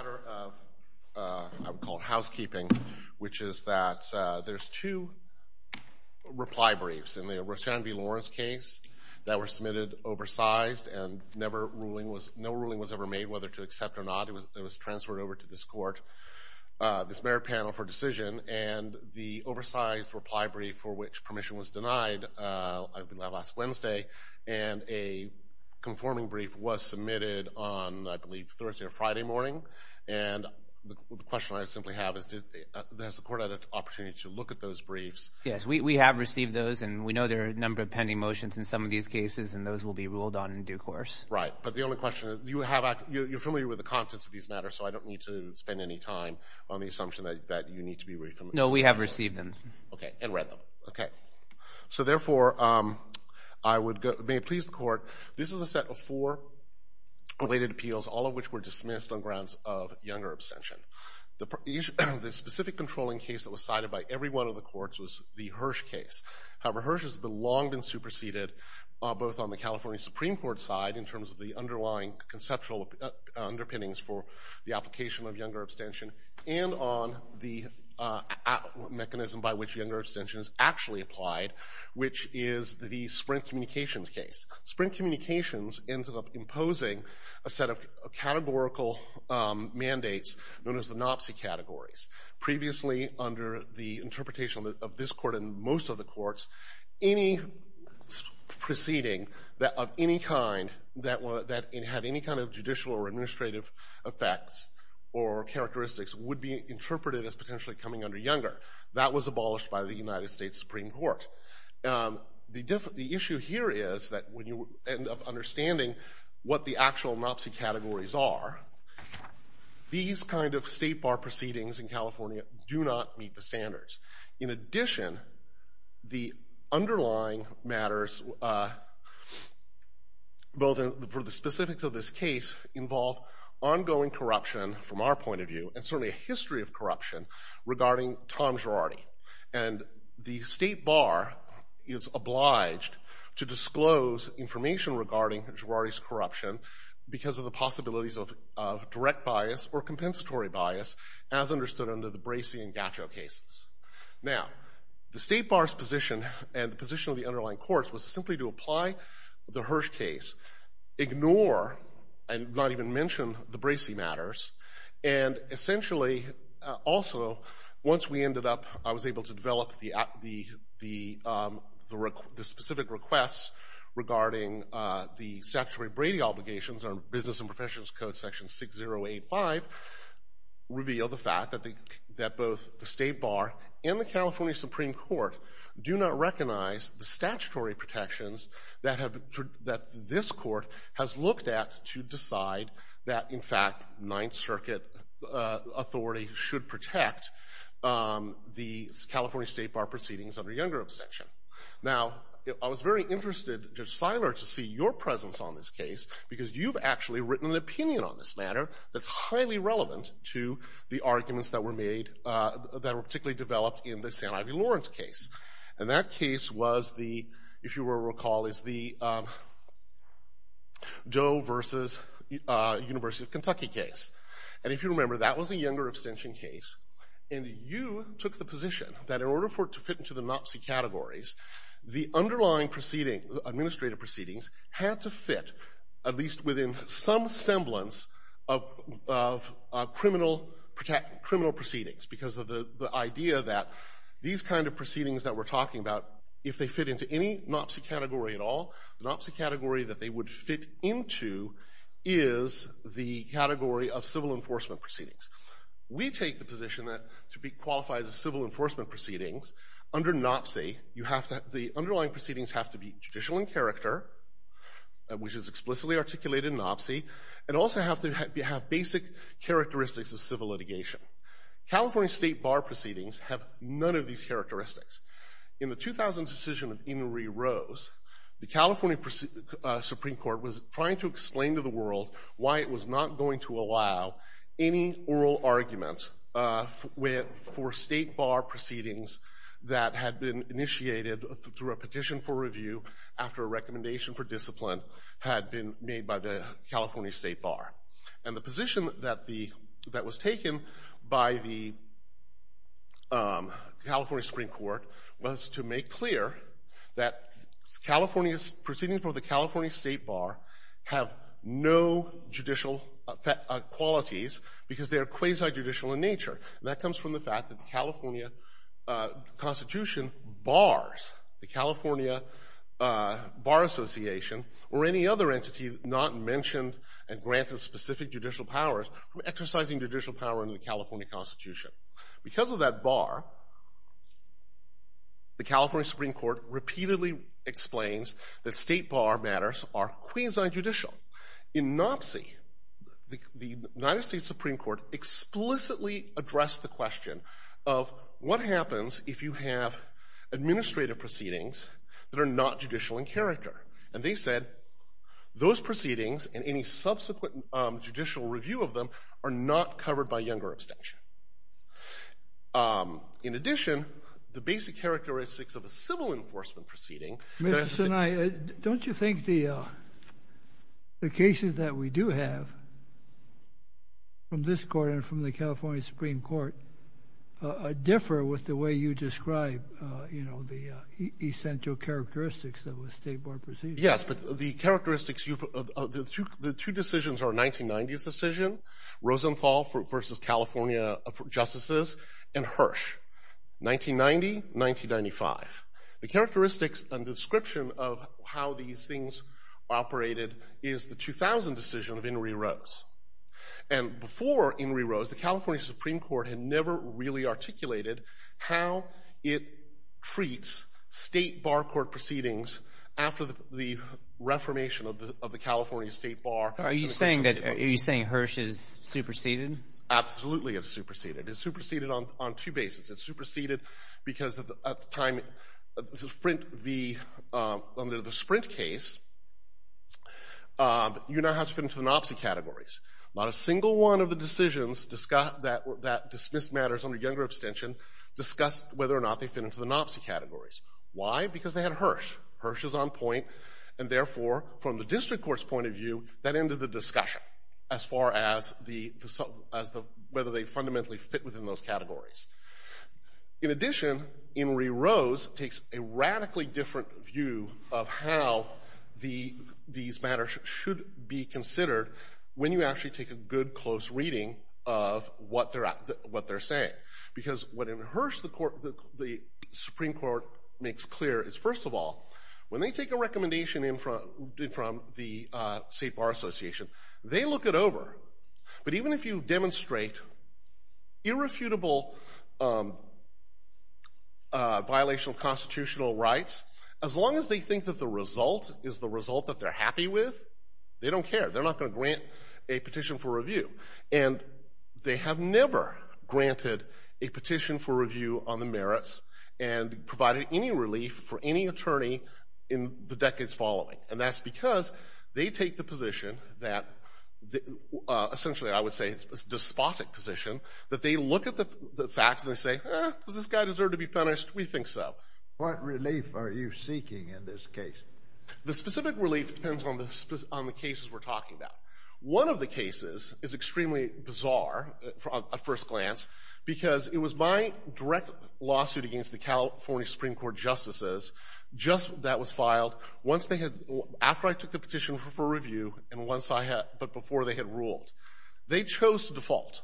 I would call it housekeeping, which is that there's two reply briefs in the Roshan v. Lawrence case that were submitted oversized, and no ruling was ever made whether to accept or not. It was transferred over to this court, this mayor panel for decision, and the oversized reply brief for which permission was denied last Wednesday, and a conforming brief was submitted Friday morning. And the question I simply have is, has the court had an opportunity to look at those briefs? Yes, we have received those, and we know there are a number of pending motions in some of these cases, and those will be ruled on in due course. Right, but the only question is, you have, you're familiar with the contents of these matters, so I don't need to spend any time on the assumption that you need to be very familiar. No, we have received them. Okay, and read them. Okay. So therefore, I would, may it please the court, this is a set of four related appeals, all of which were dismissed on grounds of younger abstention. The specific controlling case that was cited by every one of the courts was the Hirsch case. However, Hirsch has long been superseded both on the California Supreme Court side in terms of the underlying conceptual underpinnings for the application of younger abstention, and on the mechanism by which younger abstention is actually applied, which is the Sprint Communications case. Sprint Communications ends up imposing a set of categorical mandates known as the NOPSI categories. Previously, under the interpretation of this court and most of the courts, any proceeding of any kind that had any kind of judicial or administrative effects or characteristics would be interpreted as potentially coming under younger. That was abolished by the United States. The issue here is that when you end up understanding what the actual NOPSI categories are, these kind of state bar proceedings in California do not meet the standards. In addition, the underlying matters, both for the specifics of this case, involve ongoing corruption, from our point of view, and certainly a history of corruption, regarding Tom Girardi. And the state bar is obliged to disclose information regarding Girardi's corruption because of the possibilities of direct bias or compensatory bias, as understood under the Bracey and Gaccio cases. Now, the state bar's position and the position of the underlying courts was simply to apply the Hirsch case, ignore and not even mention the Bracey matters, and essentially also, once we ended up, I was able to develop the specific requests regarding the Secretary Brady obligations under Business and Professionals Code Section 6085, reveal the fact that both the state bar and the California Supreme Court do not recognize the statutory protections that this court has looked at to decide that, in fact, Ninth Circuit authority should protect the California state bar proceedings under Younger abstention. Now, I was very interested, Judge Seiler, to see your presence on this case, because you've actually written an opinion on this matter that's highly relevant to the arguments that were made, that were particularly developed in the San Ivey Lawrence case. And that case was the, if you will recall, is the Doe versus University of Kentucky case. And if you remember, that was a Younger abstention case. And you took the position that in order for it to fit into the NOPCI categories, the underlying administrative proceedings had to fit, at least within some semblance of criminal proceedings, because of the idea that these kind of proceedings that we're talking about, if they fit into any NOPCI category at all, the NOPCI category that they would fit into is the category of civil enforcement proceedings. We take the position that to be qualified as civil enforcement proceedings, under NOPCI, you have to, the underlying proceedings have to be judicial in character, which is explicitly articulated in NOPCI, and also have to have basic characteristics of civil litigation. California state bar proceedings have none of these characteristics. In the 2000 decision that Inouye rose, the California Supreme Court was trying to explain to the world why it was not going to allow any oral argument for state bar proceedings that had been initiated through a petition for review after a recommendation for discipline had been made by the California state bar. And the position that was taken by the California Supreme Court was to make clear that California's proceedings for the California state bar have no judicial qualities because they are quasi-judicial in nature. That comes from the fact that the California Constitution bars the California Bar Association or any other entity not mentioned and granted specific judicial powers from exercising judicial power under the California Constitution. Because of that bar, the California Supreme Court repeatedly explains that state bar matters are quasi-judicial. In NOPCI, the United States Supreme Court explicitly addressed the question of what happens if you have administrative proceedings that are not judicial in character. And they said those proceedings and any subsequent judicial review of them are not covered by In addition, the basic characteristics of a civil enforcement proceeding... Mr. Sinai, don't you think the cases that we do have from this court and from the California Supreme Court differ with the way you describe the essential characteristics of a state bar Rosenthal v. California Justices and Hirsch, 1990-1995. The characteristics and description of how these things operated is the 2000 decision of Inouye Rose. And before Inouye Rose, the California Supreme Court had never really articulated how it treats state bar court after the reformation of the California state bar. Are you saying that Hirsch is superseded? Absolutely it's superseded. It's superseded on two bases. It's superseded because at the time under the Sprint case, you now have to fit into the NOPCI categories. Not a single one of the decisions that dismissed matters under Younger abstention discussed whether or not they fit into the NOPCI categories. Why? Because they had Hirsch. Hirsch is on point. And therefore, from the district court's point of view, that ended the discussion as far as whether they fundamentally fit within those categories. In addition, Inouye Rose takes a radically different view of how these matters should be considered when you actually take a good close reading of what they're saying. Because what in Hirsch the Supreme Court makes clear is first of all, when they take a recommendation from the state bar association, they look it over. But even if you demonstrate irrefutable violation of constitutional rights, as long as they think that the result is the result that they're happy with, they don't care. They're not going to grant a petition for review. And they have never granted a petition for review on the merits and provided any relief for any attorney in the decades following. And that's because they take the position that essentially I would say it's a despotic position that they look at the facts and they say, does this guy deserve to be punished? We think so. What relief are you seeking in this case? The specific relief depends on the cases we're talking about. One of the cases is extremely bizarre at first glance because it was my direct lawsuit against the California Supreme Court justices just that was filed once they had, after I took the petition for review, and once I had, but before they had ruled. They chose to default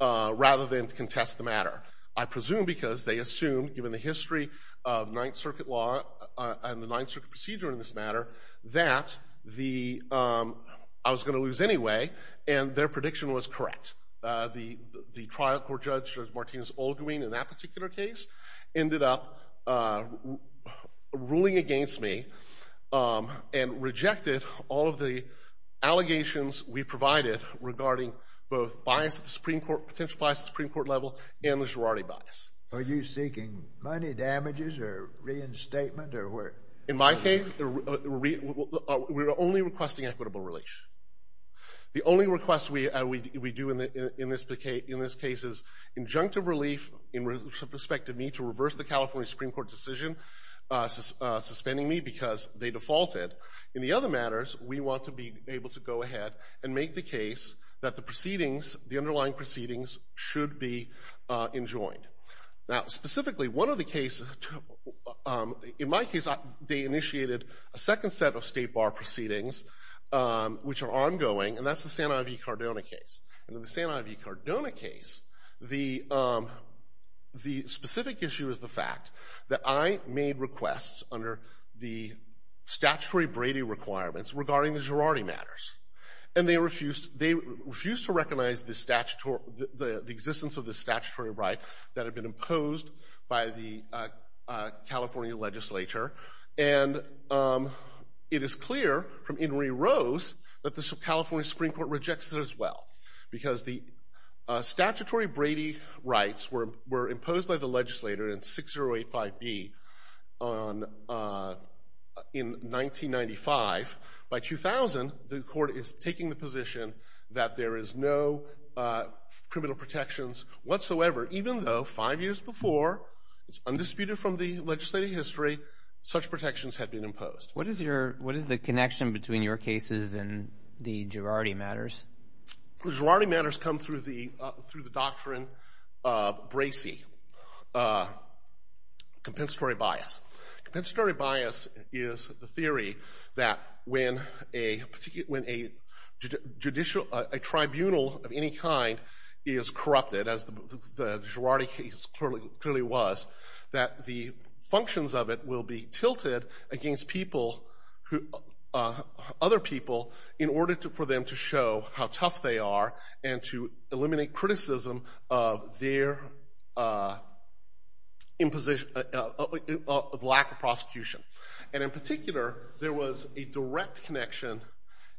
rather than contest the matter. I presume because they assumed, given the history of Ninth Circuit law and the Ninth Circuit procedure in this matter, that I was going to lose anyway, and their prediction was correct. The trial court judge, Martinez-Olguin, in that particular case, ended up ruling against me and rejected all of the allegations we provided regarding both potential bias at the Supreme Court level and the Girardi bias. Are you seeking money damages or reinstatement? In my case, we're only requesting equitable relief. The only request we do in this case is injunctive relief in respect to me to reverse the California Supreme Court decision suspending me because they defaulted. In the other matters, we want to be able to go ahead and make the case that the proceedings, the underlying proceedings, should be enjoined. Now, specifically, one of the cases, in my case, they initiated a second set of State Bar proceedings, which are ongoing, and that's the Santa Yvie-Cardona case. In the Santa Yvie-Cardona case, the specific issue is the fact that I made requests under the statutory Brady requirements regarding the Girardi matters, and they refused to recognize the existence of the statutory right that had been imposed by the California legislature, and it is clear from Inouye Rose that the California Supreme Court rejects it as well because the statutory Brady rights were imposed by the legislator in 6085B in 1995. By 2000, the court is taking the position that there is no criminal protections whatsoever, even though five years before, undisputed from the legislative history, such protections had been imposed. What is the connection between your cases and the Girardi matters? The Girardi matters come through the doctrine of Bracey, compensatory bias. Compensatory bias is the theory that when a tribunal of any kind is corrupted, as the Girardi case clearly was, that the functions of it will be tilted against other people in order for them to show how tough they are and to eliminate criticism of their lack of prosecution. And in particular, there was a direct connection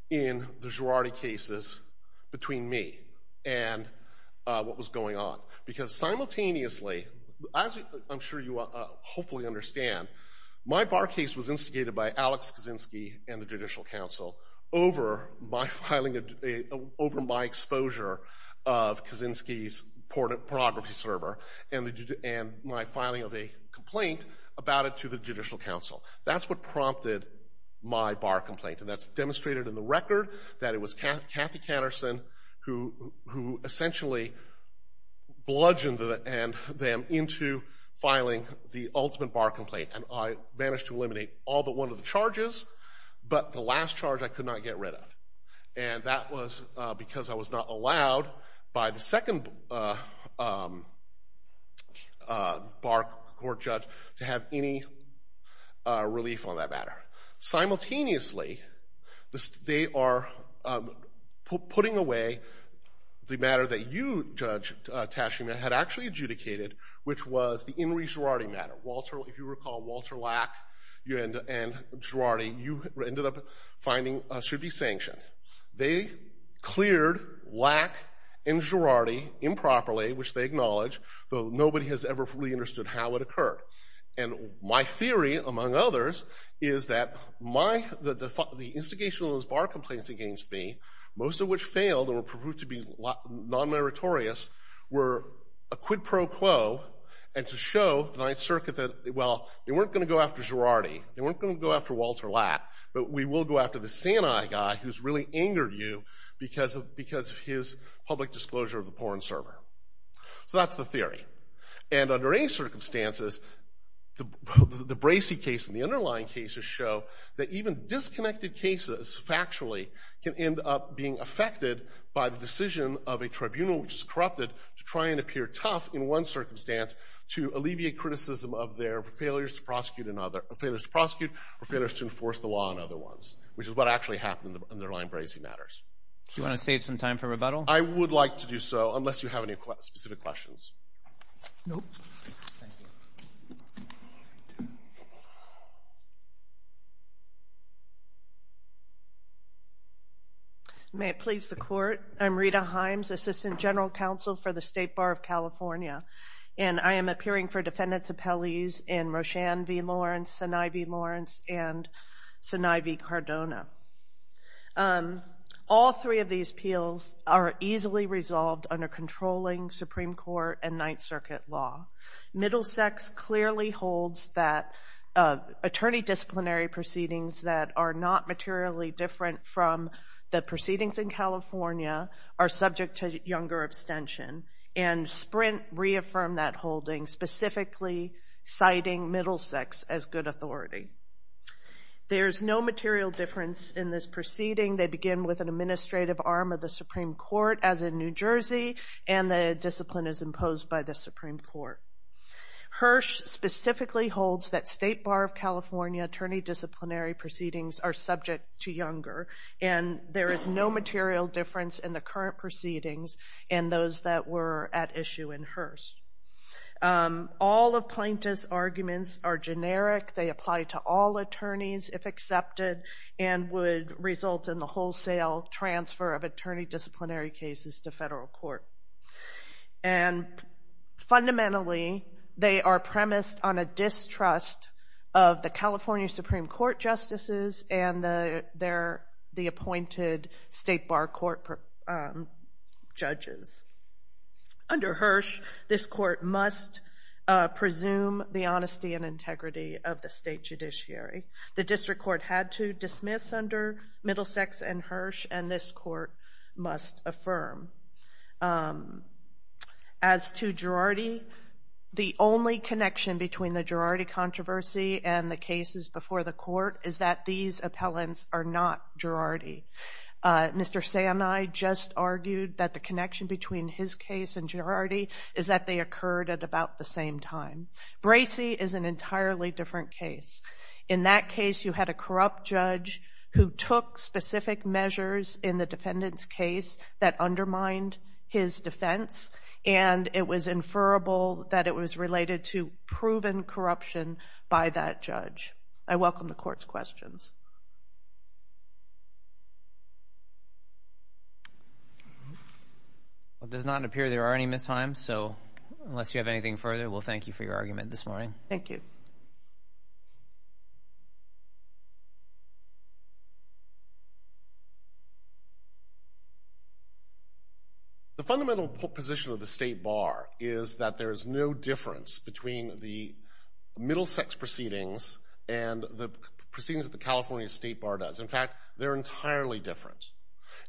in the Girardi cases between me and what was going on because simultaneously, as I'm sure you hopefully understand, my bar case was instigated by Alex Kaczynski and the Judicial Council over my exposure of Kaczynski's pornography server and my filing of a complaint about it to the Judicial Council. That's what prompted my bar complaint, and that's demonstrated in the record that it was Kathy Canterson who essentially bludgeoned them into filing the ultimate bar complaint. And I managed to eliminate all but one of the charges, but the last charge I could not get rid of. And that was because I was not allowed by the second bar court judge to have any relief on that matter. Simultaneously, they are putting away the matter that you, Judge Taschema, had actually adjudicated, which was the In re Girardi matter. If you recall Walter Lack and Girardi, you ended up finding should be sanctioned. They cleared Lack and Girardi improperly, which they acknowledge, though nobody has ever really understood how it occurred. And my theory, among others, is that the instigation of those bar complaints against me, most of which failed and were proved to be non-meritorious, were a quid pro quo and to show the Ninth Circuit that, well, they weren't going to go after Girardi. They weren't going to go after Walter Lack, but we will go after the Santa guy who's really angered you because of his public disclosure of the porn server. So that's the theory. And under any circumstances, the Bracey case and the underlying cases show that even disconnected cases, factually, can end up being affected by the decision of a tribunal, which is corrupted, to try and appear tough in one circumstance to alleviate criticism of their failures to prosecute or failures to enforce the law on other ones, which is what actually happened in the underlying Bracey matters. Do you want to save some time for rebuttal? I would like to do so, unless you have any specific questions. No. Thank you. May it please the Court. I'm Rita Himes, Assistant General Counsel for the State Bar of California, and I am appearing for defendant's appellees in Roshan v. Lawrence, Sinai v. Lawrence, and Sinai v. Cardona. All three of these appeals are easily resolved under controlling Supreme Court and Ninth Circuit law. Middlesex clearly holds that attorney disciplinary proceedings that are not materially different from the proceedings in California are subject to younger abstention, and Sprint reaffirmed that holding, specifically citing Middlesex as good authority. There is no material difference in this proceeding. They begin with an administrative arm of the Supreme Court, as in New Jersey, and the discipline is imposed by the Supreme Court. Hirsch specifically holds that State Bar of California attorney disciplinary proceedings are subject to younger, and there is no material difference in the current proceedings and those that were at issue in Hirsch. All of Plaintiff's arguments are generic. They apply to all attorneys, if accepted, and would result in the wholesale transfer of attorney disciplinary cases to federal court. And fundamentally, they are premised on a distrust of the California Supreme Court justices and the appointed State Bar Court judges. Under Hirsch, this court must presume the honesty and integrity of the state judiciary. The district court had to dismiss under Middlesex and Hirsch, and this court must affirm. As to Girardi, the only connection between the Girardi controversy and the cases before the court is that these appellants are not Girardi. Mr. Sanai just argued that the connection between his case and Girardi is that they occurred at about the same time. Bracey is an entirely different case. In that case, you had a corrupt judge who took specific measures in the defendant's case that undermined his defense, and it was inferrable that it was related to proven corruption by that judge. I welcome the court's questions. It does not appear there are any missed times, so unless you have anything further, we'll thank you for your argument this morning. Thank you. The fundamental position of the State Bar is that there is no difference between the Middlesex proceedings and the proceedings that the California State Bar does. In fact, they're entirely different.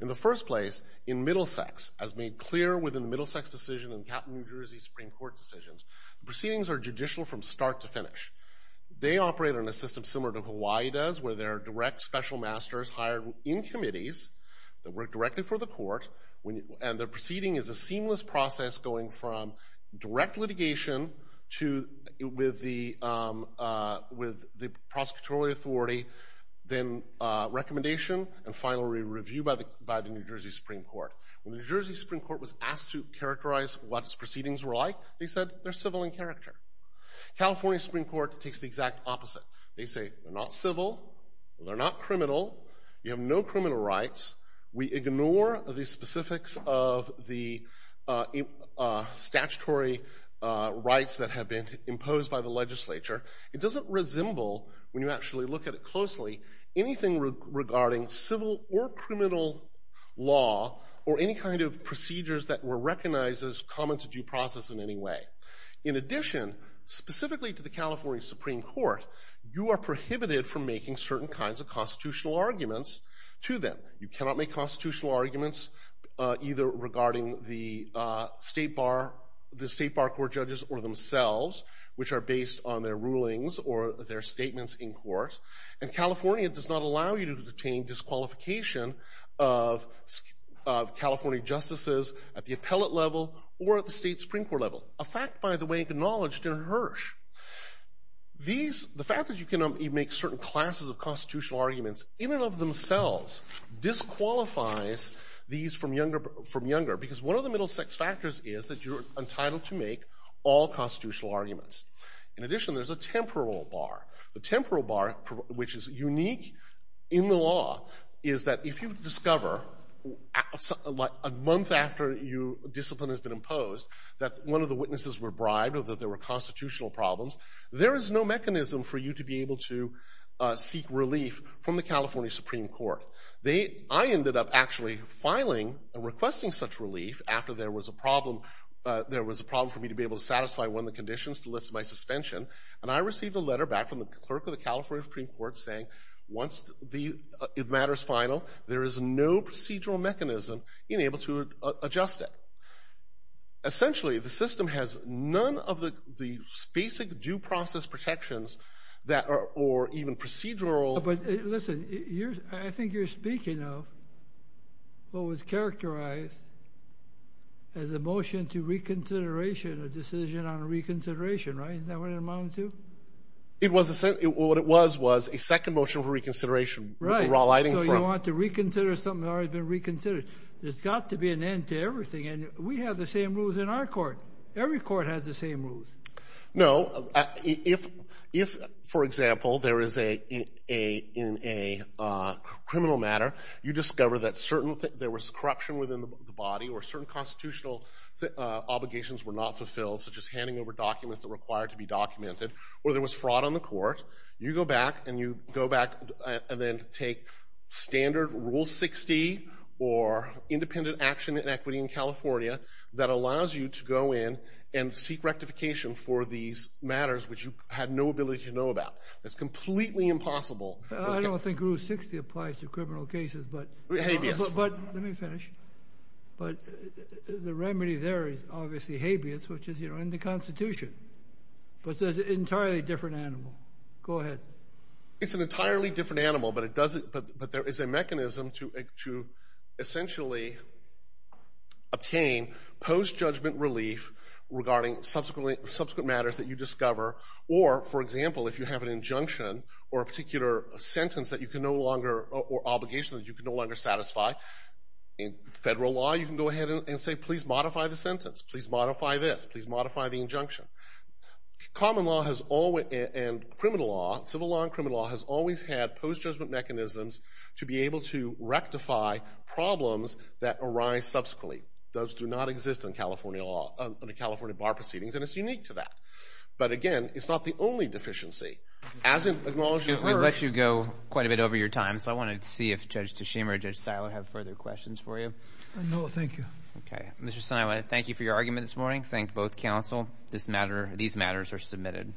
In the first place, in Middlesex, as made clear within the Middlesex decision and the Captain New Jersey Supreme Court decisions, the proceedings are judicial from start to finish. They operate on a system similar to Hawaii does, where there are direct special masters hired in committees that work directly for the court, and the proceeding is a seamless process going from direct litigation with the prosecutorial authority, then recommendation, and finally review by the New Jersey Supreme Court. When the New Jersey Supreme Court was asked to characterize what its proceedings were like, they said they're civil in character. California Supreme Court takes the exact opposite. They say they're not civil, they're not criminal, you have no criminal rights, we ignore the specifics of the statutory rights that have been imposed by the legislature. It doesn't resemble, when you actually look at it closely, anything regarding civil or criminal law or any kind of procedures that were recognized as common to due process in any way. In addition, specifically to the California Supreme Court, you are prohibited from making certain kinds of constitutional arguments to them. You cannot make constitutional arguments either regarding the state bar court judges or themselves, which are based on their rulings or their statements in court. And California does not allow you to obtain disqualification of California justices at the appellate level or at the state Supreme Court level, a fact, by the way, acknowledged in Hirsch. These, the fact that you cannot even make certain classes of constitutional arguments in and of themselves disqualifies these from younger, because one of the middle sex factors is that you're entitled to make all constitutional arguments. In addition, there's a temporal bar. The temporal bar, which is unique in the law, is that if you discover a month after discipline has been imposed that one of the witnesses were bribed or that there were constitutional problems, there is no mechanism for you to be able to seek relief from the California Supreme Court. They, I ended up actually filing and requesting such relief after there was a problem, there was a problem for me to be able to satisfy one of the conditions to lift my suspension, and I received a letter back from the clerk of the California Supreme Court saying, once the matter is final, there is no procedural mechanism in able to adjust it. Essentially, the system has none of the basic due process protections that are, or even procedural. But listen, I think you're speaking of what was characterized as a motion to reconsideration, a decision on reconsideration, right? Isn't that what it amounted to? What it was was a second motion for reconsideration. Right. So you want to reconsider something that's already been reconsidered. There's got to be an end to everything, and we have the same rules in our court. Every court has the same rules. No. If, for example, there is a criminal matter, you discover that there was corruption within the body or certain constitutional obligations were not fulfilled, such as handing over documents that required to be documented, or there was fraud on the court, you go back and you go back and then take standard Rule 60 or independent action in equity in California that allows you to go in and seek rectification for these matters, which you had no ability to know about. That's completely impossible. I don't think Rule 60 applies to criminal cases, but let me finish. But the remedy there is obviously habeas, which is in the Constitution. But it's an entirely different animal. Go ahead. It's an entirely different animal, but there is a mechanism to essentially obtain post-judgment relief regarding subsequent matters that you discover, or, for example, if you have an injunction or a particular sentence or obligation that you can no longer satisfy in federal law, you can go ahead and say, please modify the sentence. Please modify this. Please modify the injunction. Common law and criminal law, civil law and criminal law, has always had post-judgment mechanisms to be able to rectify problems that arise subsequently. Those do not exist under California bar proceedings, and it's unique to that. But, again, it's not the only deficiency. We've let you go quite a bit over your time, so I wanted to see if Judge Tishima or Judge Siler have further questions for you. No, thank you. Okay. Mr. Siler, I want to thank you for your argument this morning. Thank both counsel. These matters are submitted.